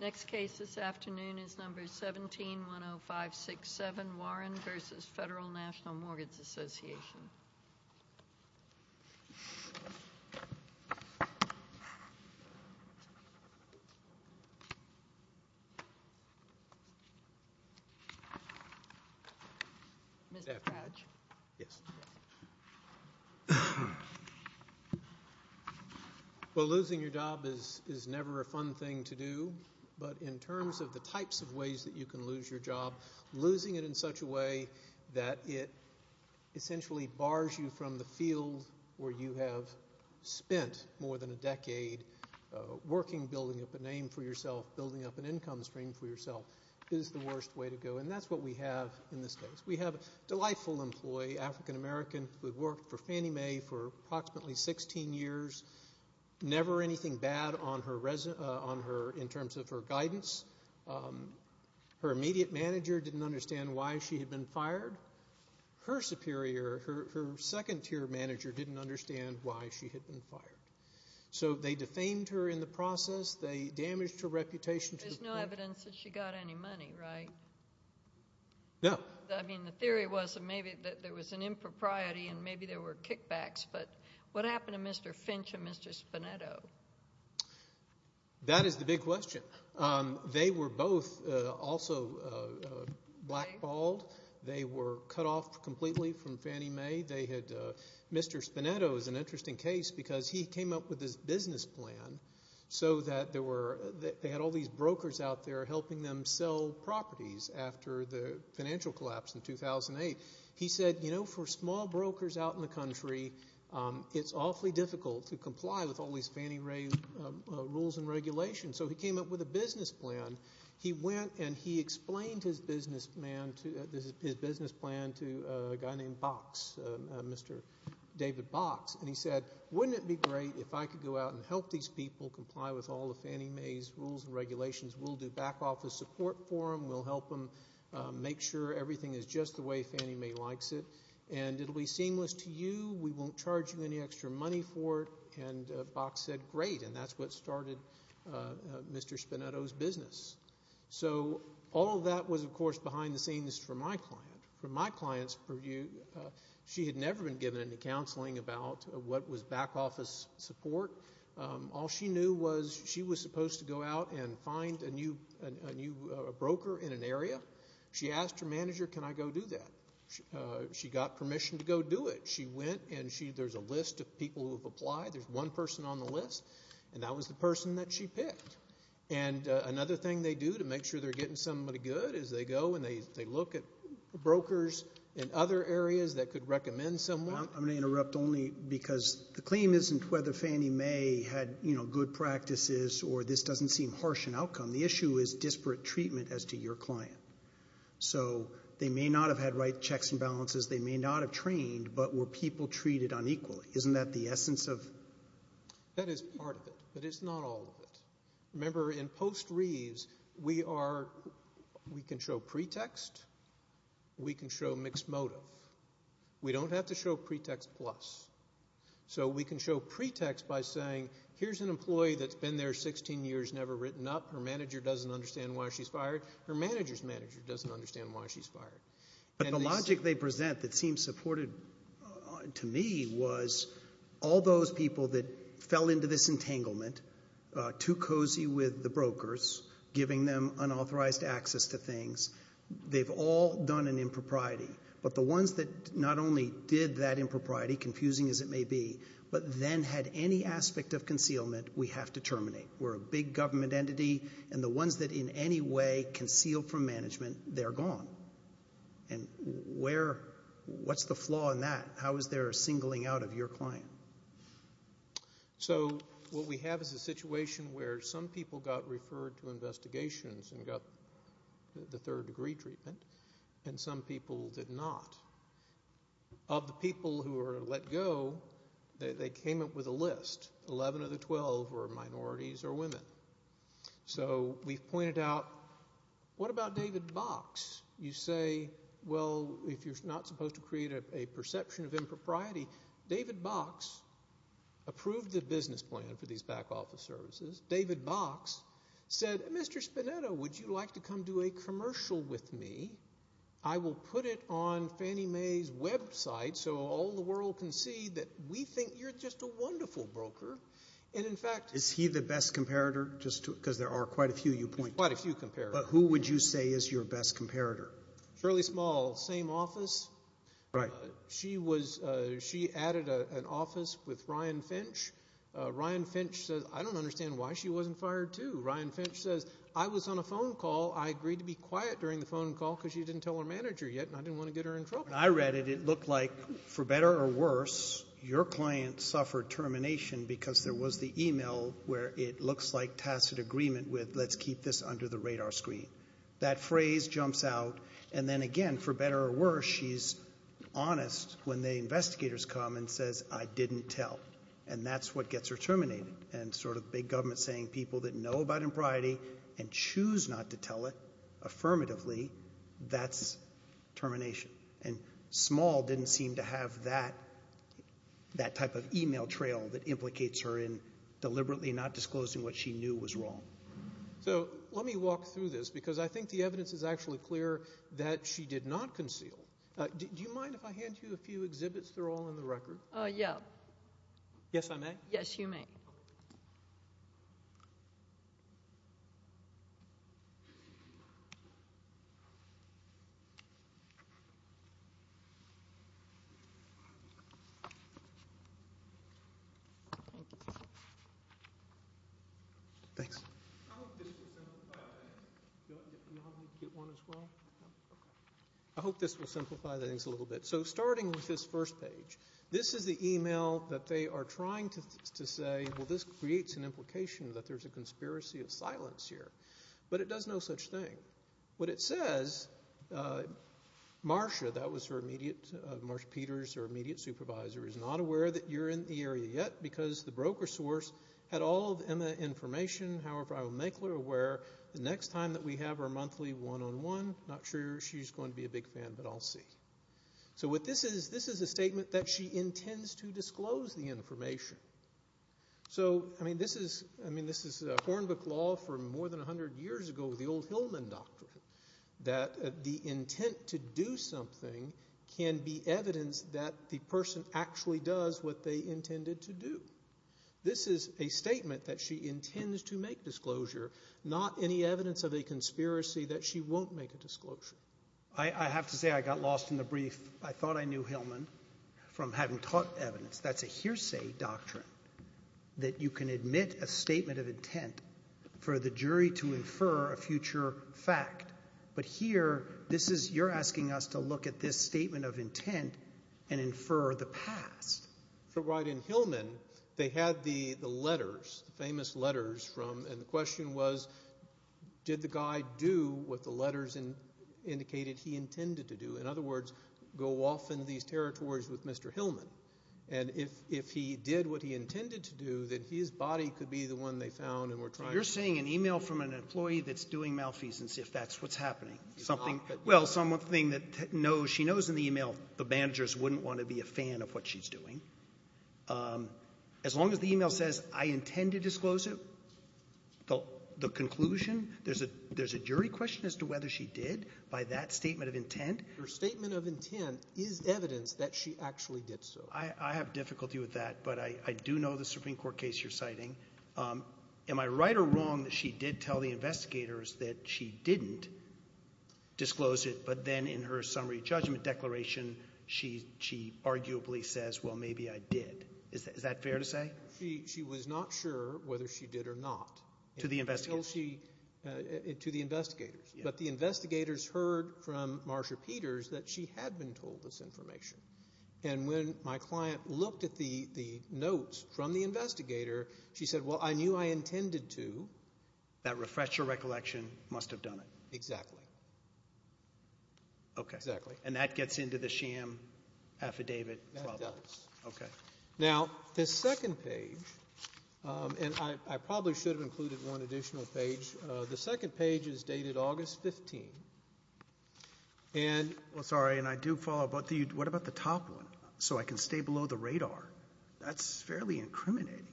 1710567 Warren v. Federal National Mortgage Association Well, losing your job is never a fun thing to do, but in terms of the types of ways that you can lose your job, losing it in such a way that it essentially bars you from the field where you have spent more than a decade working, building up a name for yourself, building up an income stream for yourself, is the worst way to go. And that's what we have in this case. We have a delightful employee, African American, who worked for Fannie Mae for approximately 16 years. Never anything bad on her in terms of her guidance. Her immediate manager didn't understand why she had been fired. Her superior, her second-tier manager, didn't understand why she had been fired. So they defamed her in the process. They damaged her reputation. There's no evidence that she got any money, right? No. I mean, the theory was that maybe there was an impropriety and maybe there were kickbacks, but what happened to Mr. Finch and Mr. Spinetto? That is the big question. They were both also blackballed. They were cut off completely from Fannie Mae. Mr. Spinetto is an interesting case because he came up with this business plan so that they had all these brokers out there helping them sell properties after the financial collapse in 2008. He said, you know, for small brokers out in the country, it's awfully difficult to comply with all these Fannie Mae rules and regulations. So he came up with a business plan. He went and he explained his business plan to a guy named Box, Mr. David Box, and he said, wouldn't it be great if I could go out and help these people comply with all of Fannie Mae's rules and regulations? We'll do back office support for them. We'll help them make sure everything is just the way Fannie Mae likes it, and it'll be seamless to you. We won't charge you any extra money for it, and Box said, great, and that's what started Mr. Spinetto's business. So all that was, of course, behind the scenes for my client. For my client's purview, she had never been given any counseling about what was back office support. All she knew was she was supposed to go out and find a new broker in an area. She asked her manager, can I go do that? She got permission to go do it. She went and there's a list of people who have applied. There's one person on the list, and that was the person that she picked. And another thing they do to make sure they're getting somebody good is they go and they look at brokers in other areas that could recommend someone. I'm going to interrupt only because the claim isn't whether Fannie Mae had good practices or this doesn't seem harsh in outcome. The issue is disparate treatment as to your client. So they may not have had right checks and balances. They may not have trained, but were people treated unequally? Isn't that the essence of? That is part of it, but it's not all of it. Remember, in post-Reeves, we can show pretext. We can show mixed motive. We don't have to show pretext plus. So we can show pretext by saying, here's an employee that's been there 16 years, never written up. Her manager doesn't understand why she's fired. Her manager's manager doesn't understand why she's fired. But the logic they present that seems supported to me was all those people that fell into this entanglement, too cozy with the brokers, giving them unauthorized access to things, they've all done an impropriety. But the ones that not only did that impropriety, confusing as it may be, but then had any aspect of concealment, we have to terminate. We're a big government entity, and the ones that in any way conceal from management, they're gone. And what's the flaw in that? How is there a singling out of your client? So what we have is a situation where some people got referred to investigations and got the third degree treatment, and some people did not. Of the people who were let go, they came up with a list, 11 of the 12 were minorities or women. So we've pointed out, what about David Box? You say, well, if you're not supposed to create a perception of impropriety, David Box approved the business plan for these back office services. David Box said, Mr. Spinetto, would you like to come do a commercial with me? I will put it on Fannie Mae's website so all the world can see that we think you're just a wonderful broker. And in fact... Is he the best comparator, just because there are quite a few you point to? Quite a few comparators. But who would you say is your best comparator? Shirley Small, same office. She added an office with Ryan Finch. Ryan Finch says, I don't understand why she wasn't fired too. Ryan Finch says, I was on a phone call. I agreed to be quiet during the phone call because she didn't tell her manager yet, and I didn't want to get her in trouble. When I read it, it looked like, for better or worse, your client suffered termination because there was the email where it looks like tacit agreement with, let's keep this under the radar screen. That phrase jumps out, and then again, for better or worse, she's honest when the investigators come and says, I didn't tell. And that's what gets her terminated. And sort of big government saying, people that know about impriority and choose not to tell it, affirmatively, that's termination. And Small didn't seem to have that type of email trail that implicates her in deliberately not disclosing what she knew was wrong. So, let me walk through this, because I think the evidence is actually clear that she did not conceal. Do you mind if I hand you a few exhibits? They're all in the record. Oh, yeah. Yes, I may? Yes, you may. Thanks. I hope this will simplify things a little bit. So, starting with this first page, this is the email that they are trying to say, well, this creates an implication that there's a conspiracy of silence here. But it does no such thing. What it says, Marsha, that was her immediate, Marsha Peters, her immediate supervisor, is not aware that you're in the area yet because the broker source had all of Emma's information. However, I will make her aware the next time that we have our monthly one-on-one. Not sure she's going to be a big fan, but I'll see. So, what this is, this is a statement that she intends to disclose the information. So, I mean, this is Hornbook law from more than a hundred years ago, the old Hillman doctrine, that the intent to do something can be evidence that the person actually does what they intended to do. This is a statement that she intends to make disclosure, not any evidence of a conspiracy that she won't make a disclosure. I have to say I got lost in the brief. I thought I knew Hillman from having taught evidence. That's a hearsay doctrine, that you can admit a statement of intent for the jury to infer a future fact. But here, this is, you're asking us to look at this statement of intent and infer the past. But right in Hillman, they had the letters, the famous letters from, and the question was, did the guy do what the letters indicated he intended to do? In other words, go off into these territories with Mr. Hillman. And if he did what he intended to do, then his body could be the one they found and were trying to... So, you're saying an email from an employee that's doing malfeasance, if that's what's happening. It's not, but... Well, something that she knows in the email, the managers wouldn't want to be a fan of what she's doing. As long as the email says, I intend to disclose it, the conclusion, there's a jury question as to whether she did by that statement of intent. Your statement of intent is evidence that she actually did so. I have difficulty with that, but I do know the Supreme Court case you're citing. Am I right or wrong that she did tell the investigators that she didn't disclose it, but then in her summary judgment declaration, she arguably says, well, maybe I did? Is that fair to say? She was not sure whether she did or not. To the investigators? To the investigators. But the investigators heard from Marcia Peters that she had been told this information. And when my client looked at the notes from the investigator, she said, well, I knew I intended to... That refresher recollection must have done it. Exactly. Okay. Exactly. And that gets into the sham affidavit problem. That does. Okay. Now, the second page, and I probably should have included one additional page. The second page is dated August 15th, and... Well, sorry, and I do follow both of you. What about the top one, so I can stay below the radar? That's fairly incriminating.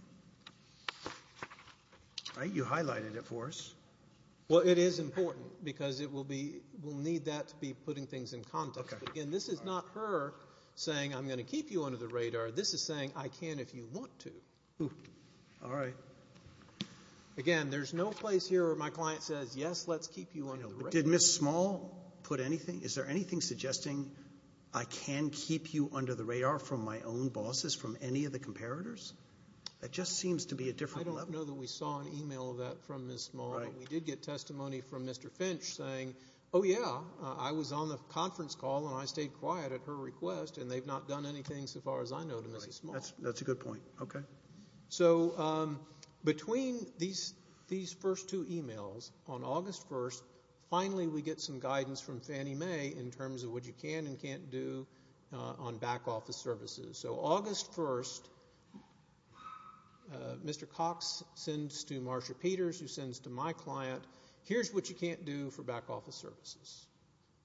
Right? You highlighted it for us. Well, it is important, because we'll need that to be putting things in context. Okay. Again, this is not her saying, I'm going to keep you under the radar. This is saying, I can if you want to. All right. Again, there's no place here where my client says, yes, let's keep you under the radar. Did Ms. Small put anything? Is there anything suggesting I can keep you under the radar from my own bosses, from any of the comparators? That just seems to be a different level. I don't know that we saw an email of that from Ms. Small, but we did get testimony from Mr. Finch saying, oh, yeah, I was on the conference call, and I stayed quiet at her request, and they've not done anything so far as I know to Ms. Small. That's a good point. Okay. So between these first two emails, on August 1st, finally we get some guidance from Fannie Mae in terms of what you can and can't do on back office services. So August 1st, Mr. Cox sends to Marcia Peters, who sends to my client, here's what you can't do for back office services.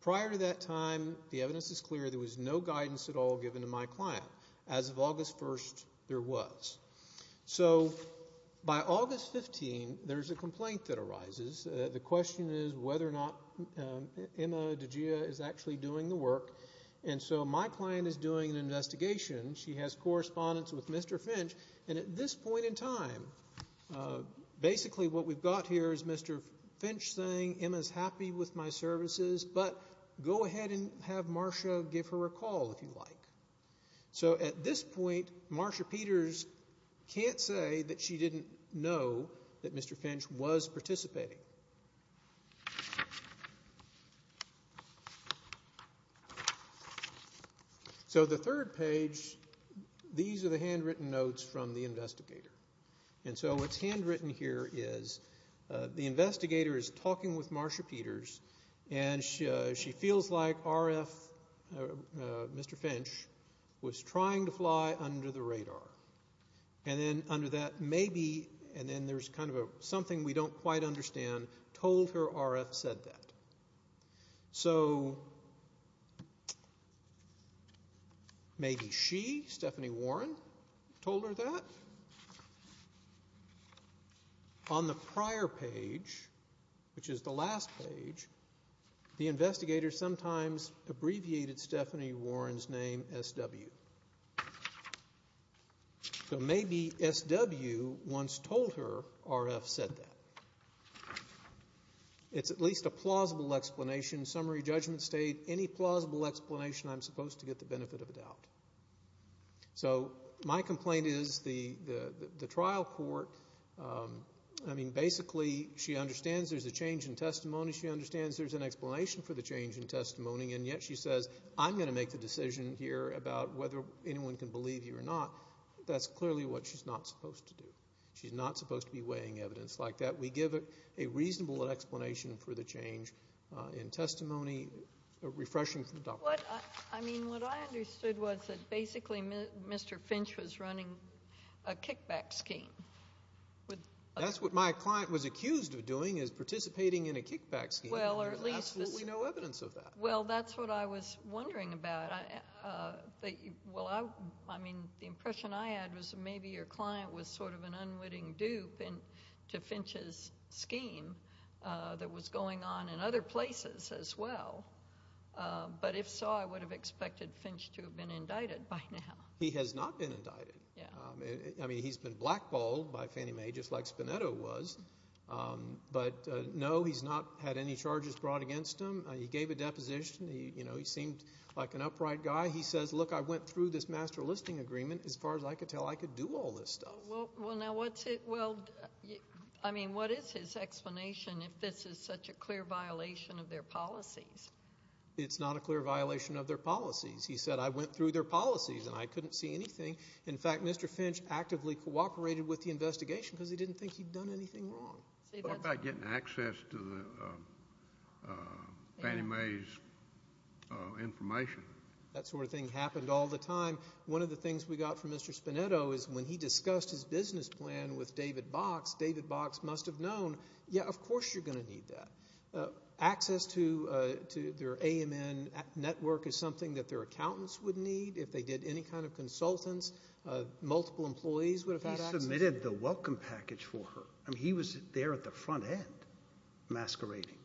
Prior to that time, the evidence is clear. There was no guidance at all given to my client. As of August 1st, there was. So by August 15, there's a complaint that arises. The question is whether or not Emma DiGia is actually doing the work. And so my client is doing an investigation. She has correspondence with Mr. Finch. And at this point in time, basically what we've got here is Mr. Finch saying, Emma's happy with my services, but go ahead and have Marcia give her a call, if you like. So at this point, Marcia Peters can't say that she didn't know that Mr. Finch was participating. So the third page, these are the handwritten notes from the investigator. And so what's handwritten here is the investigator is talking with Marcia Peters, and she feels like Mr. Finch was trying to fly under the radar. And then under that, maybe, and then there's kind of something we don't quite understand, told her RF said that. So maybe she, Stephanie Warren, told her that. On the prior page, which is the last page, the investigator sometimes abbreviated Stephanie Warren's name SW. So maybe SW once told her RF said that. It's at least a plausible explanation. Summary judgment state, any plausible explanation, I'm supposed to get the benefit of the doubt. So my complaint is the trial court, I mean, basically she understands there's a change in testimony. She understands there's an explanation for the change in testimony, and yet she says, I'm going to make the decision here about whether anyone can believe you or not. That's clearly what she's not supposed to do. She's not supposed to be weighing evidence like that. We give a reasonable explanation for the change in testimony, refreshing from the doctor. What I understood was that basically Mr. Finch was running a kickback scheme. That's what my client was accused of doing is participating in a kickback scheme. There's absolutely no evidence of that. Well, that's what I was wondering about. I mean, the impression I had was maybe your client was sort of an unwitting dupe to Finch's scheme that was going on in other places as well. But if so, I would have expected Finch to have been indicted by now. He has not been indicted. I mean, he's been blackballed by Fannie Mae just like Spinetto was. But no, he's not had any charges brought against him. He gave a deposition. He seemed like an upright guy. He says, look, I went through this master listing agreement. As far as I could tell, I could do all this stuff. Well, now, what is his explanation if this is such a clear violation of their policies? It's not a clear violation of their policies. He said, I went through their policies and I couldn't see anything. In fact, Mr. Finch actively cooperated with the investigation because he didn't think he'd done anything wrong. What about getting access to Fannie Mae's information? That sort of thing happened all the time. One of the things we got from Mr. Spinetto is when he discussed his business plan with David Box, David Box must have known, yeah, of course you're going to need that. Access to their AMN network is something that their accountants would need. If they did any kind of consultants, multiple employees would have had access. He submitted the welcome package for her. I mean, he was there at the front end masquerading.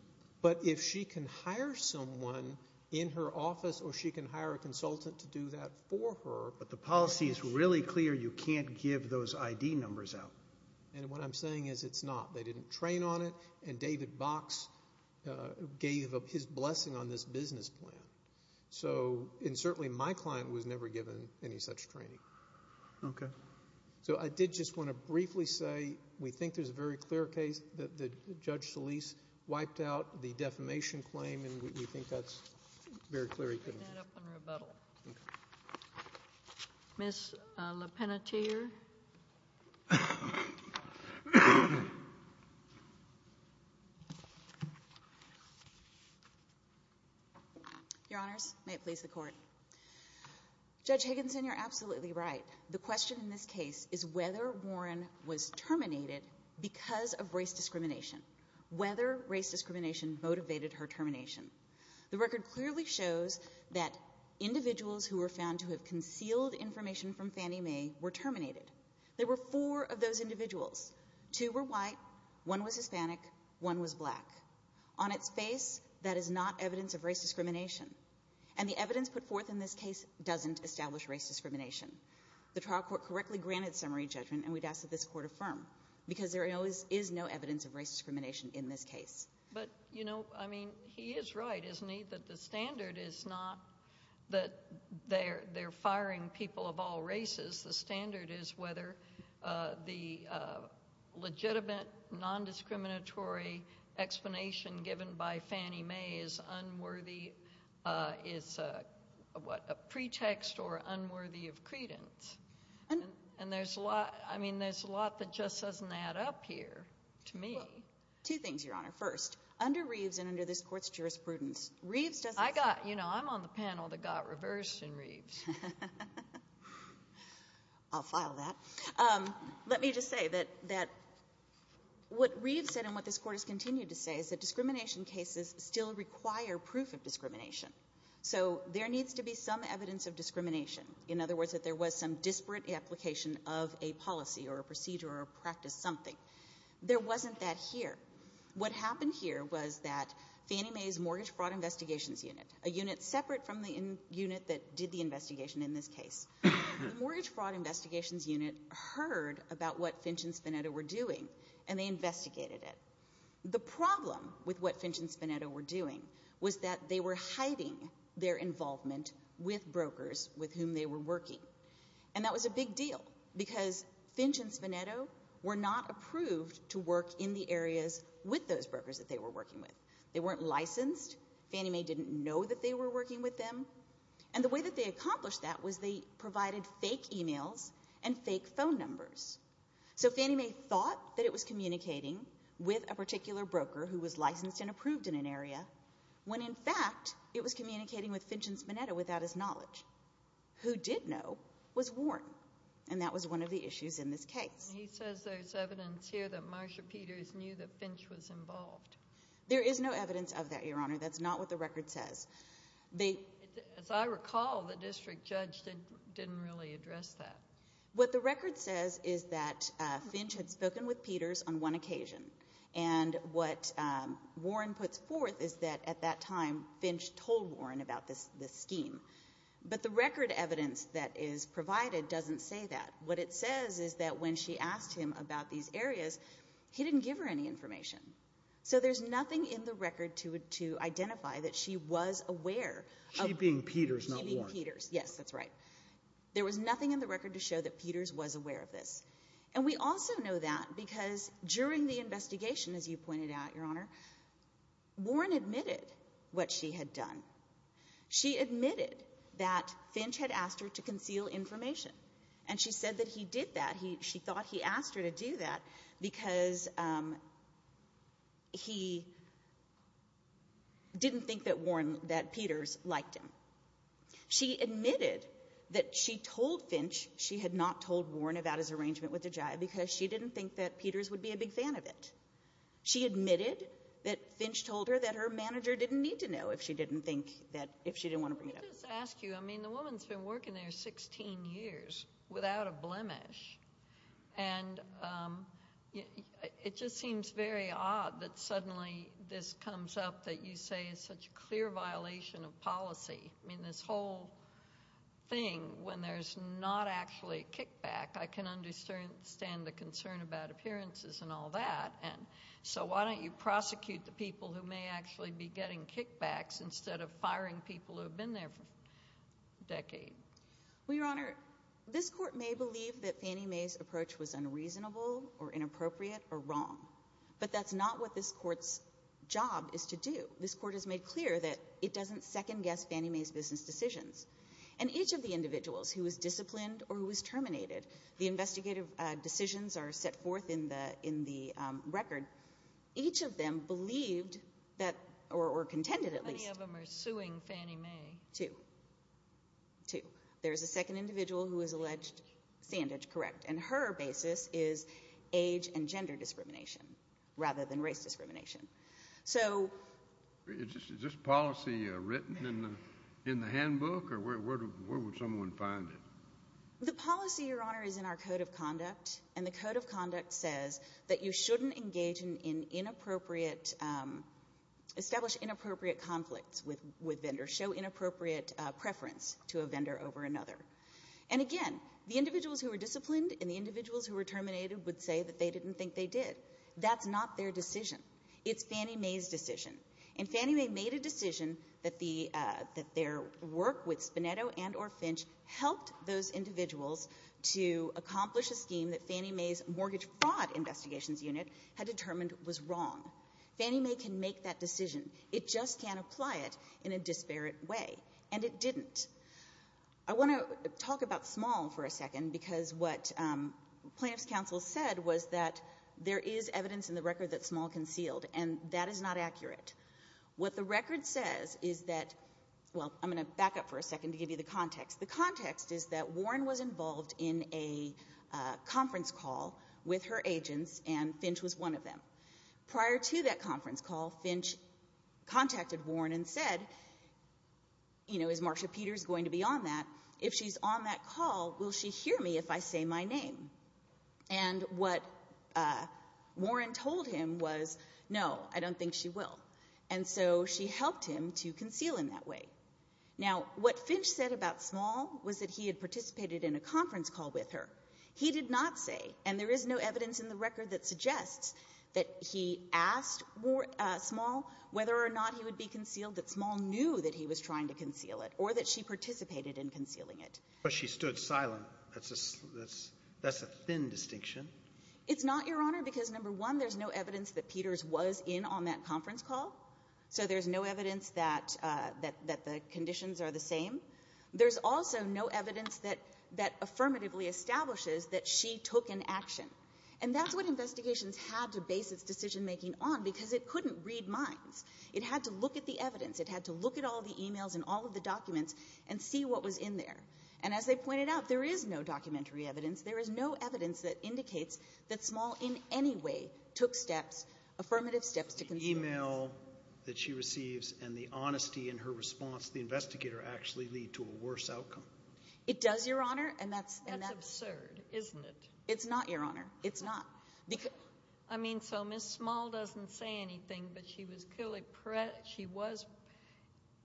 But if she can hire someone in her office or she can hire a consultant to do that for her. But the policy is really clear. You can't give those ID numbers out. And what I'm saying is it's not. They didn't train on it, and David Box gave up his blessing on this business plan. And certainly my client was never given any such training. Okay. So I did just want to briefly say we think there's a very clear case that Judge Solis wiped out the defamation claim, and we think that's very clear he couldn't have. I'll bring that up in rebuttal. Okay. Ms. LePenatier. Your Honors, may it please the Court. Judge Higginson, you're absolutely right. The question in this case is whether Warren was terminated because of race discrimination, whether race discrimination motivated her termination. The record clearly shows that individuals who were found to have concealed information from Fannie Mae were terminated. There were four of those individuals. Two were white, one was Hispanic, one was black. On its face, that is not evidence of race discrimination. And the evidence put forth in this case doesn't establish race discrimination. The trial court correctly granted summary judgment, and we'd ask that this Court affirm, because there is no evidence of race discrimination in this case. But, you know, I mean, he is right, isn't he, that the standard is not that they're firing people of all races. The standard is whether the legitimate, nondiscriminatory explanation given by Fannie Mae is unworthy, is a pretext or unworthy of credence. And there's a lot, I mean, there's a lot that just doesn't add up here to me. Well, two things, Your Honor. First, under Reeves and under this Court's jurisprudence, Reeves doesn't say that. I'll file that. Let me just say that what Reeves said and what this Court has continued to say is that discrimination cases still require proof of discrimination. So there needs to be some evidence of discrimination, in other words, that there was some disparate application of a policy or a procedure or a practice, something. There wasn't that here. What happened here was that Fannie Mae's Mortgage Fraud Investigations Unit, a unit separate from the unit that did the investigation in this case, the Mortgage Fraud Investigations Unit heard about what Finch and Spinetto were doing, and they investigated it. The problem with what Finch and Spinetto were doing was that they were hiding their involvement with brokers with whom they were working. And that was a big deal because Finch and Spinetto were not approved to work in the areas with those brokers that they were working with. They weren't licensed. Fannie Mae didn't know that they were working with them. And the way that they accomplished that was they provided fake e-mails and fake phone numbers. So Fannie Mae thought that it was communicating with a particular broker who was licensed and approved in an area, when in fact it was communicating with Finch and Spinetto without his knowledge, who did know was Warren, and that was one of the issues in this case. He says there's evidence here that Marcia Peters knew that Finch was involved. There is no evidence of that, Your Honor. That's not what the record says. As I recall, the district judge didn't really address that. What the record says is that Finch had spoken with Peters on one occasion, and what Warren puts forth is that at that time Finch told Warren about this scheme. But the record evidence that is provided doesn't say that. What it says is that when she asked him about these areas, he didn't give her any information. So there's nothing in the record to identify that she was aware of meeting Peters. She being Peters, not Warren. Yes, that's right. There was nothing in the record to show that Peters was aware of this. And we also know that because during the investigation, as you pointed out, Your Honor, Warren admitted what she had done. She admitted that Finch had asked her to conceal information, and she said that he did that. She thought he asked her to do that because he didn't think that Peters liked him. She admitted that she told Finch she had not told Warren about his arrangement with DeGioia because she didn't think that Peters would be a big fan of it. She admitted that Finch told her that her manager didn't need to know if she didn't want to bring it up. Let me just ask you, I mean, the woman's been working there 16 years without a blemish, and it just seems very odd that suddenly this comes up that you say is such a clear violation of policy. I mean, this whole thing, when there's not actually a kickback, I can understand the concern about appearances and all that. So why don't you prosecute the people who may actually be getting kickbacks instead of firing people who have been there for a decade? Well, Your Honor, this court may believe that Fannie Mae's approach was unreasonable or inappropriate or wrong, but that's not what this court's job is to do. This court has made clear that it doesn't second-guess Fannie Mae's business decisions. And each of the individuals who was disciplined or who was terminated, the investigative decisions are set forth in the record. Each of them believed that, or contended at least. How many of them are suing Fannie Mae? Two. Two. There's a second individual who is alleged sandage, correct, and her basis is age and gender discrimination rather than race discrimination. So is this policy written in the handbook, or where would someone find it? The policy, Your Honor, is in our Code of Conduct, and the Code of Conduct says that you shouldn't engage in inappropriate, establish inappropriate conflicts with vendors, show inappropriate preference to a vendor over another. And again, the individuals who were disciplined and the individuals who were terminated would say that they didn't think they did. That's not their decision. It's Fannie Mae's decision. And Fannie Mae made a decision that their work with Spinetto and or Finch helped those individuals to accomplish a scheme that Fannie Mae's mortgage fraud investigations unit had determined was wrong. Fannie Mae can make that decision. It just can't apply it in a disparate way, and it didn't. I want to talk about Small for a second, because what plaintiff's counsel said was that there is evidence in the record that Small concealed, and that is not accurate. What the record says is that, well, I'm going to back up for a second to give you the context. The context is that Warren was involved in a conference call with her agents, and Finch was one of them. Prior to that conference call, Finch contacted Warren and said, you know, is Marsha Peters going to be on that? If she's on that call, will she hear me if I say my name? And what Warren told him was, no, I don't think she will. And so she helped him to conceal in that way. Now, what Finch said about Small was that he had participated in a conference call with her. He did not say, and there is no evidence in the record that suggests that he asked Small whether or not he would be concealed, that Small knew that he was trying to conceal it or that she participated in concealing it. But she stood silent. That's a thin distinction. It's not, Your Honor, because, number one, there's no evidence that Peters was in on that conference call. So there's no evidence that the conditions are the same. There's also no evidence that affirmatively establishes that she took an action. And that's what investigations had to base its decision-making on because it couldn't read minds. It had to look at the evidence. It had to look at all the e-mails and all of the documents and see what was in there. And as they pointed out, there is no documentary evidence. There is no evidence that indicates that Small in any way took steps, affirmative steps, to conceal. The e-mail that she receives and the honesty in her response to the investigator actually lead to a worse outcome. It does, Your Honor. And that's absurd, isn't it? It's not, Your Honor. It's not. I mean, so Ms. Small doesn't say anything, but she was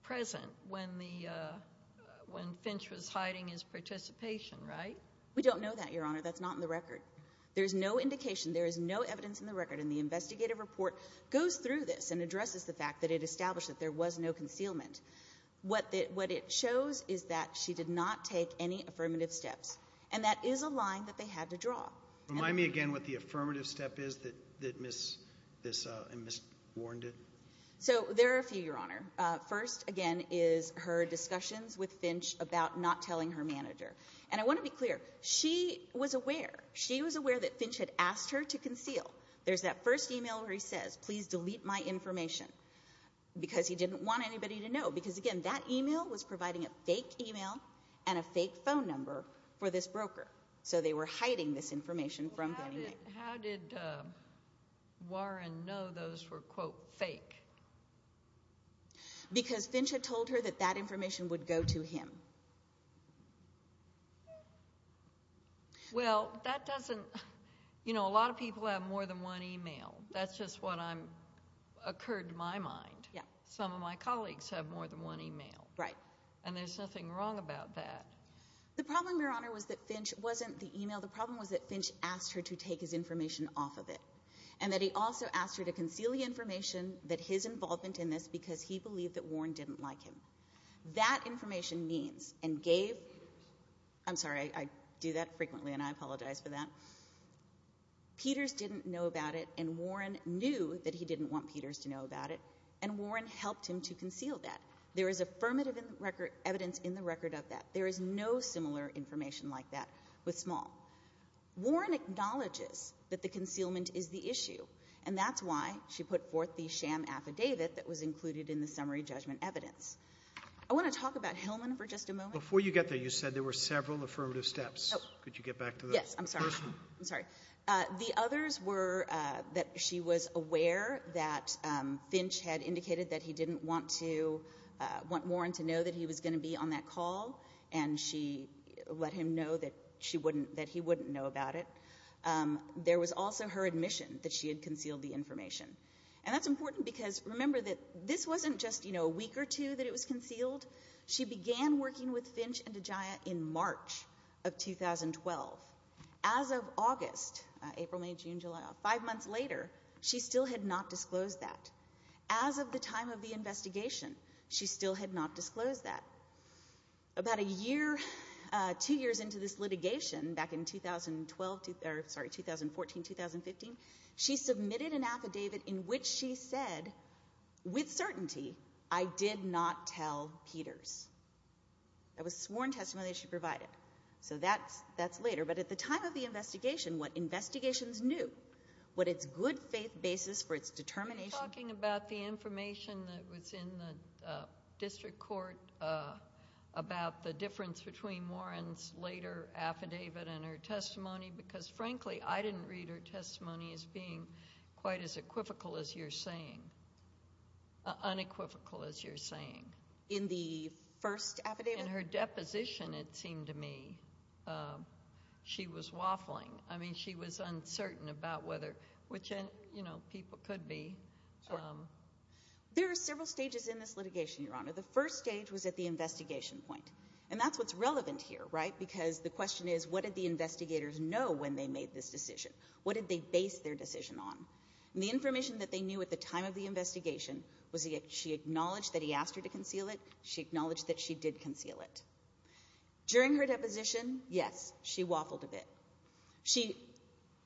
present when Finch was hiding his participation, right? We don't know that, Your Honor. That's not in the record. There's no indication. There is no evidence in the record. And the investigative report goes through this and addresses the fact that it established that there was no concealment. What it shows is that she did not take any affirmative steps. And that is a line that they had to draw. Remind me again what the affirmative step is that Ms. Warren did. So there are a few, Your Honor. First, again, is her discussions with Finch about not telling her manager. And I want to be clear. She was aware. She was aware that Finch had asked her to conceal. There's that first e-mail where he says, please delete my information, because he didn't want anybody to know. Because, again, that e-mail was providing a fake e-mail and a fake phone number for this broker. So they were hiding this information from him. How did Warren know those were, quote, fake? Because Finch had told her that that information would go to him. Well, that doesn't – you know, a lot of people have more than one e-mail. That's just what occurred to my mind. Some of my colleagues have more than one e-mail. Right. And there's nothing wrong about that. The problem, Your Honor, was that Finch wasn't the e-mail. The problem was that Finch asked her to take his information off of it and that he also asked her to conceal the information that his involvement in this because he believed that Warren didn't like him. That information means and gave – I'm sorry. I do that frequently, and I apologize for that. Peters didn't know about it, and Warren knew that he didn't want Peters to know about it, and Warren helped him to conceal that. There is affirmative evidence in the record of that. There is no similar information like that with Small. Warren acknowledges that the concealment is the issue, and that's why she put forth the sham affidavit that was included in the summary judgment evidence. I want to talk about Hillman for just a moment. Before you get there, you said there were several affirmative steps. Oh. Could you get back to the first one? Yes. I'm sorry. I'm sorry. The others were that she was aware that Finch had indicated that he didn't want to – and she let him know that he wouldn't know about it. There was also her admission that she had concealed the information, and that's important because remember that this wasn't just a week or two that it was concealed. She began working with Finch and DeGioia in March of 2012. As of August, April, May, June, July, five months later, she still had not disclosed that. As of the time of the investigation, she still had not disclosed that. About a year, two years into this litigation, back in 2014, 2015, she submitted an affidavit in which she said, with certainty, I did not tell Peters. That was sworn testimony that she provided. So that's later. But at the time of the investigation, what investigations knew, what its good faith basis for its determination – Are you talking about the information that was in the district court about the difference between Warren's later affidavit and her testimony? Because, frankly, I didn't read her testimony as being quite as unequivocal as you're saying. In the first affidavit? In her deposition, it seemed to me, she was waffling. I mean, she was uncertain about whether, which people could be. There are several stages in this litigation, Your Honor. The first stage was at the investigation point, and that's what's relevant here, right? Because the question is, what did the investigators know when they made this decision? What did they base their decision on? And the information that they knew at the time of the investigation was that she acknowledged that he asked her to conceal it. She acknowledged that she did conceal it. During her deposition, yes, she waffled a bit. She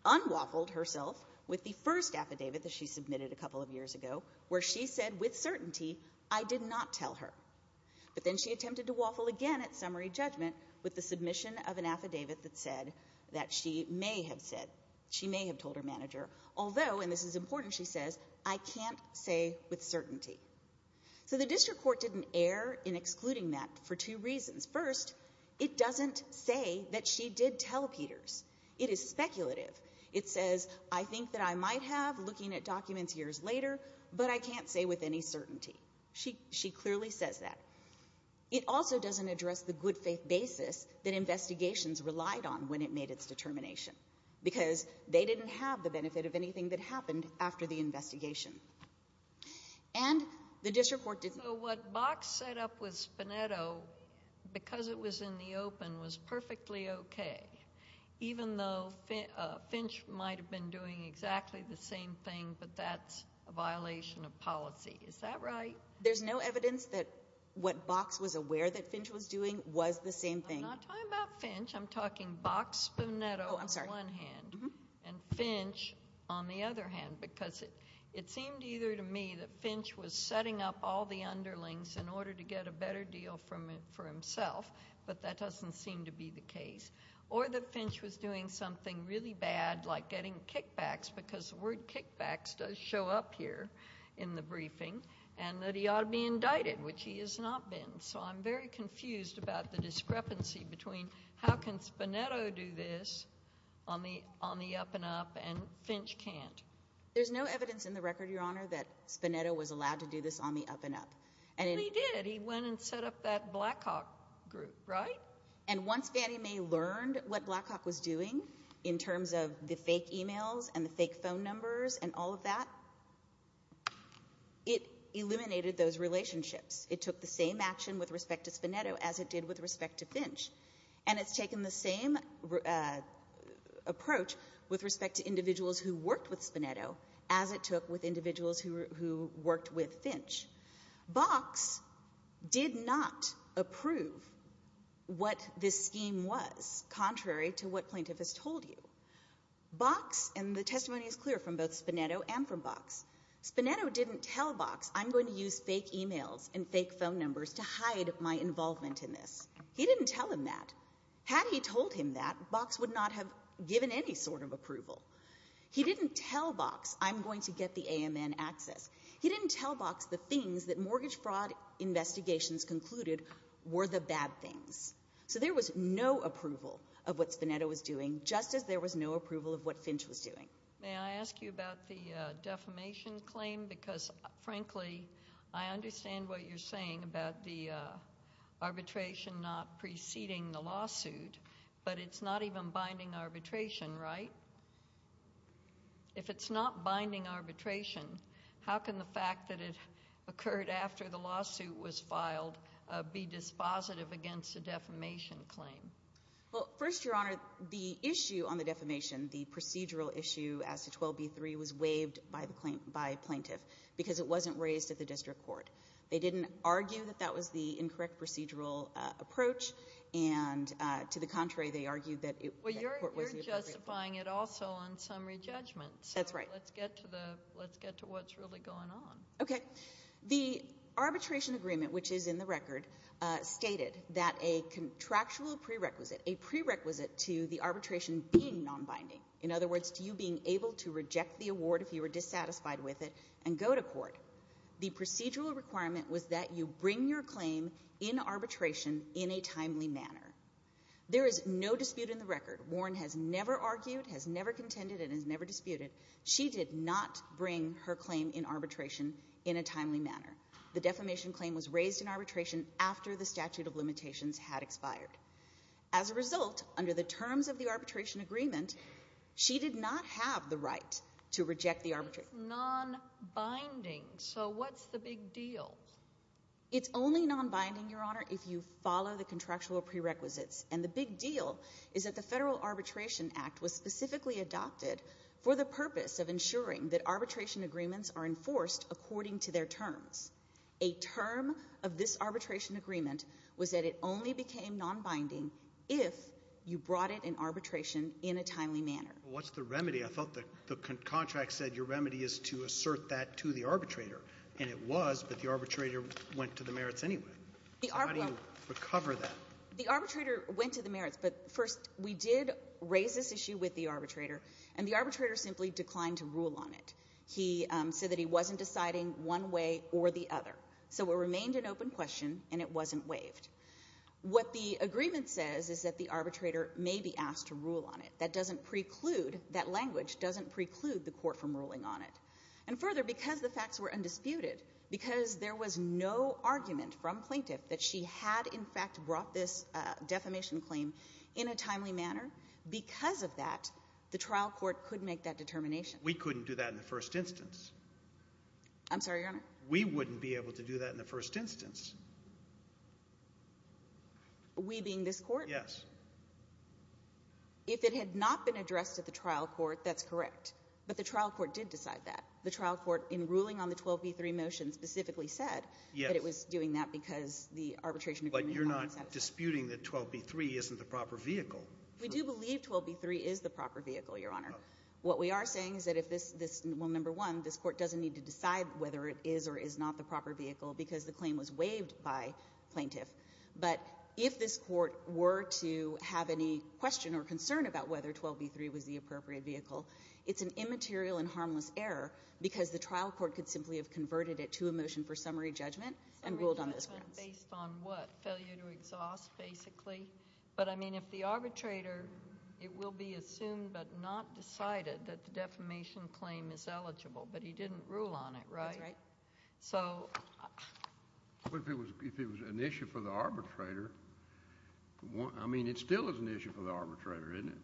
unwaffled herself with the first affidavit that she submitted a couple of years ago, where she said with certainty, I did not tell her. But then she attempted to waffle again at summary judgment with the submission of an affidavit that said that she may have said, she may have told her manager, although, and this is important, she says, I can't say with certainty. So the district court didn't err in excluding that for two reasons. First, it doesn't say that she did tell Peters. It is speculative. It says, I think that I might have, looking at documents years later, but I can't say with any certainty. She clearly says that. It also doesn't address the good faith basis that investigations relied on when it made its determination, because they didn't have the benefit of anything that happened after the investigation. And the district court didn't. So what Box set up with Spinetto, because it was in the open, was perfectly okay, even though Finch might have been doing exactly the same thing, but that's a violation of policy. Is that right? There's no evidence that what Box was aware that Finch was doing was the same thing. I'm not talking about Finch. I'm talking Box Spinetto on the one hand and Finch on the other hand, because it seemed either to me that Finch was setting up all the underlings in order to get a better deal for himself, but that doesn't seem to be the case, or that Finch was doing something really bad like getting kickbacks, because the word kickbacks does show up here in the briefing, and that he ought to be indicted, which he has not been. So I'm very confused about the discrepancy between how can Spinetto do this on the up and up and Finch can't. There's no evidence in the record, Your Honor, that Spinetto was allowed to do this on the up and up. He did. He went and set up that Blackhawk group, right? And once Fannie Mae learned what Blackhawk was doing in terms of the fake e-mails and the fake phone numbers and all of that, it eliminated those relationships. It took the same action with respect to Spinetto as it did with respect to Finch, and it's taken the same approach with respect to individuals who worked with Spinetto as it took with individuals who worked with Finch. Box did not approve what this scheme was, contrary to what plaintiff has told you. Box, and the testimony is clear from both Spinetto and from Box, Spinetto didn't tell Box, I'm going to use fake e-mails and fake phone numbers to hide my involvement in this. He didn't tell him that. Had he told him that, Box would not have given any sort of approval. He didn't tell Box, I'm going to get the AMN access. He didn't tell Box the things that mortgage fraud investigations concluded were the bad things. So there was no approval of what Spinetto was doing, just as there was no approval of what Finch was doing. May I ask you about the defamation claim? Because, frankly, I understand what you're saying about the arbitration not preceding the lawsuit, but it's not even binding arbitration, right? If it's not binding arbitration, how can the fact that it occurred after the lawsuit was filed be dispositive against a defamation claim? Well, first, Your Honor, the issue on the defamation, the procedural issue as to 12b-3, was waived by plaintiff because it wasn't raised at the district court. They didn't argue that that was the incorrect procedural approach, and to the contrary, they argued that the court wasn't appropriate. Well, you're justifying it also on summary judgment. That's right. So let's get to what's really going on. Okay. The arbitration agreement, which is in the record, stated that a contractual prerequisite, a prerequisite to the arbitration being nonbinding, in other words, to you being able to reject the award if you were dissatisfied with it and go to court, the procedural requirement was that you bring your claim in arbitration in a timely manner. There is no dispute in the record. Warren has never argued, has never contended, and has never disputed. She did not bring her claim in arbitration in a timely manner. The defamation claim was raised in arbitration after the statute of limitations had expired. As a result, under the terms of the arbitration agreement, she did not have the right to reject the arbitration. It's nonbinding. So what's the big deal? It's only nonbinding, Your Honor, if you follow the contractual prerequisites, and the big deal is that the Federal Arbitration Act was specifically adopted for the purpose of ensuring that arbitration agreements are enforced according to their terms. A term of this arbitration agreement was that it only became nonbinding if you brought it in arbitration in a timely manner. What's the remedy? I thought the contract said your remedy is to assert that to the arbitrator, and it was, but the arbitrator went to the merits anyway. How do you recover that? The arbitrator went to the merits, but first we did raise this issue with the arbitrator, and the arbitrator simply declined to rule on it. He said that he wasn't deciding one way or the other. So it remained an open question, and it wasn't waived. What the agreement says is that the arbitrator may be asked to rule on it. That doesn't preclude, that language doesn't preclude the court from ruling on it. And further, because the facts were undisputed, because there was no argument from plaintiff that she had, in fact, brought this defamation claim in a timely manner, because of that, the trial court could make that determination. We couldn't do that in the first instance. I'm sorry, Your Honor? We wouldn't be able to do that in the first instance. We being this court? Yes. If it had not been addressed at the trial court, that's correct. But the trial court did decide that. The trial court, in ruling on the 12b3 motion, specifically said that it was doing that because the arbitration agreement had been satisfied. But you're not disputing that 12b3 isn't the proper vehicle. We do believe 12b3 is the proper vehicle, Your Honor. What we are saying is that if this one, number one, this Court doesn't need to decide whether it is or is not the proper vehicle because the claim was waived by plaintiff. But if this Court were to have any question or concern about whether 12b3 was the appropriate vehicle, it's an immaterial and harmless error because the trial court could simply have converted it to a motion for summary judgment and ruled on those grounds. Summary judgment based on what? Failure to exhaust, basically? But, I mean, if the arbitrator, it will be assumed but not decided that the defamation claim is eligible. But he didn't rule on it, right? That's right. So... But if it was an issue for the arbitrator, I mean, it still is an issue for the arbitrator, isn't it?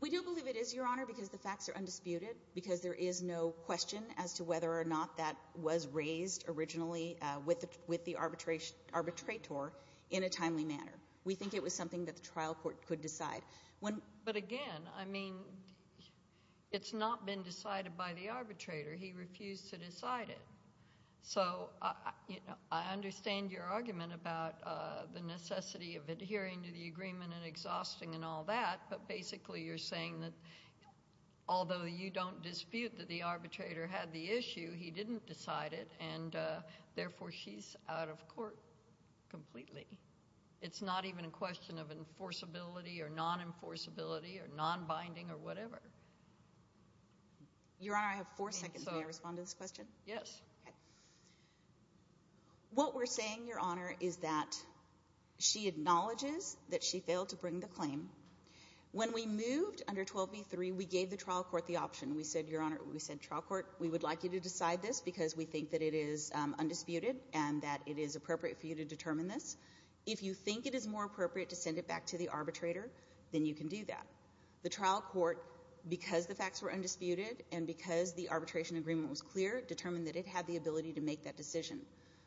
We do believe it is, Your Honor, because the facts are undisputed, because there is no question as to whether or not that was raised originally with the arbitrator in a timely manner. We think it was something that the trial court could decide. But, again, I mean, it's not been decided by the arbitrator. He refused to decide it. So, you know, I understand your argument about the necessity of adhering to the agreement and exhausting and all that. But, basically, you're saying that although you don't dispute that the arbitrator had the issue, he didn't decide it. And, therefore, she's out of court completely. It's not even a question of enforceability or non-enforceability or non-binding or whatever. Your Honor, I have four seconds. May I respond to this question? Yes. Okay. What we're saying, Your Honor, is that she acknowledges that she failed to bring the claim. When we moved under 12b-3, we gave the trial court the option. We said, Your Honor, we said, trial court, we would like you to decide this because we think that it is undisputed and that it is appropriate for you to determine this. If you think it is more appropriate to send it back to the arbitrator, then you can do that. The trial court, because the facts were undisputed and because the arbitration agreement was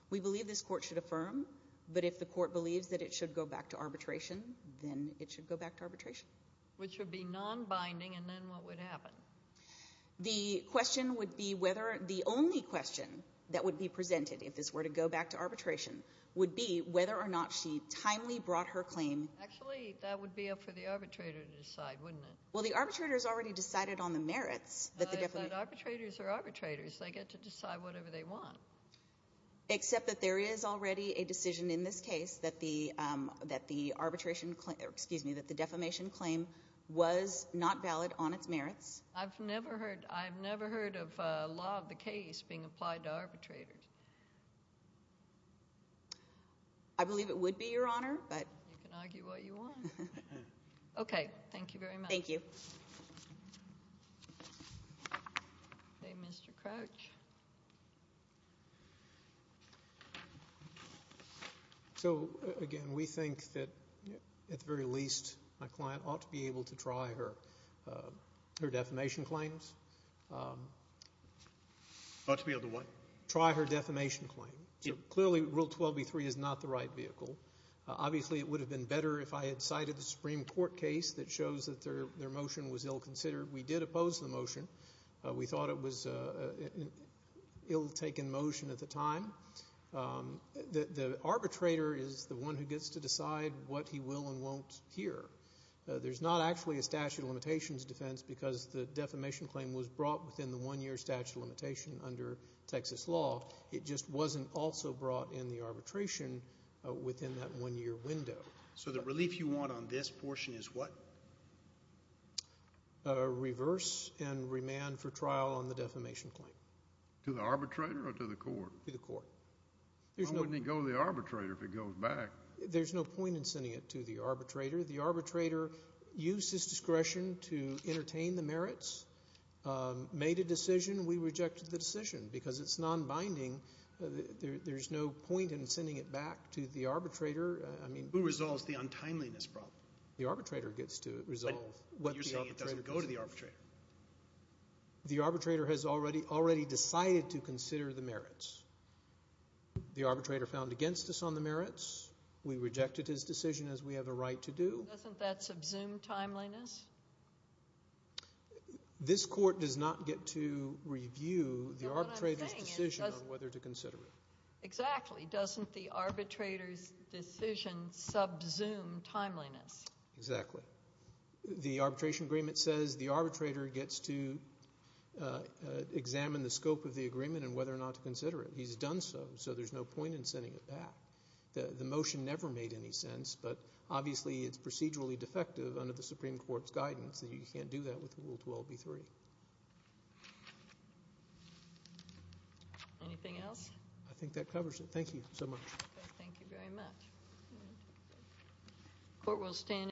We believe this court should affirm. But if the court believes that it should go back to arbitration, then it should go back to arbitration. Which would be non-binding, and then what would happen? The question would be whether the only question that would be presented if this were to go back to arbitration would be whether or not she timely brought her claim. Actually, that would be up for the arbitrator to decide, wouldn't it? Well, the arbitrator has already decided on the merits. Arbitrators are arbitrators. They get to decide whatever they want. Except that there is already a decision in this case that the defamation claim was not valid on its merits. I've never heard of a law of the case being applied to arbitrators. I believe it would be, Your Honor. You can argue what you want. Okay, thank you very much. Thank you. Okay, Mr. Crouch. So, again, we think that, at the very least, my client ought to be able to try her defamation claims. Ought to be able to what? Try her defamation claim. Clearly, Rule 12b-3 is not the right vehicle. Obviously, it would have been better if I had cited the Supreme Court case that shows that their motion was ill-considered. We did oppose the motion. We thought it was an ill-taken motion at the time. The arbitrator is the one who gets to decide what he will and won't hear. There's not actually a statute of limitations defense because the defamation claim was brought within the one-year statute of limitation under Texas law. It just wasn't also brought in the arbitration within that one-year window. So the relief you want on this portion is what? Reverse and remand for trial on the defamation claim. To the arbitrator or to the court? To the court. Why wouldn't he go to the arbitrator if he goes back? There's no point in sending it to the arbitrator. The arbitrator used his discretion to entertain the merits, made a decision. We rejected the decision because it's non-binding. There's no point in sending it back to the arbitrator. Who resolves the untimeliness problem? The arbitrator gets to resolve what the arbitrator doesn't do. But you're saying it doesn't go to the arbitrator. The arbitrator has already decided to consider the merits. The arbitrator found against us on the merits. We rejected his decision as we have a right to do. Doesn't that subsume timeliness? This court does not get to review the arbitrator's decision on whether to consider it. Exactly. Doesn't the arbitrator's decision subsume timeliness? Exactly. The arbitration agreement says the arbitrator gets to examine the scope of the agreement and whether or not to consider it. He's done so, so there's no point in sending it back. The motion never made any sense, but obviously it's procedurally defective under the Supreme Court's guidance that you can't do that with Rule 12b-3. Anything else? I think that covers it. Thank you so much. Thank you very much.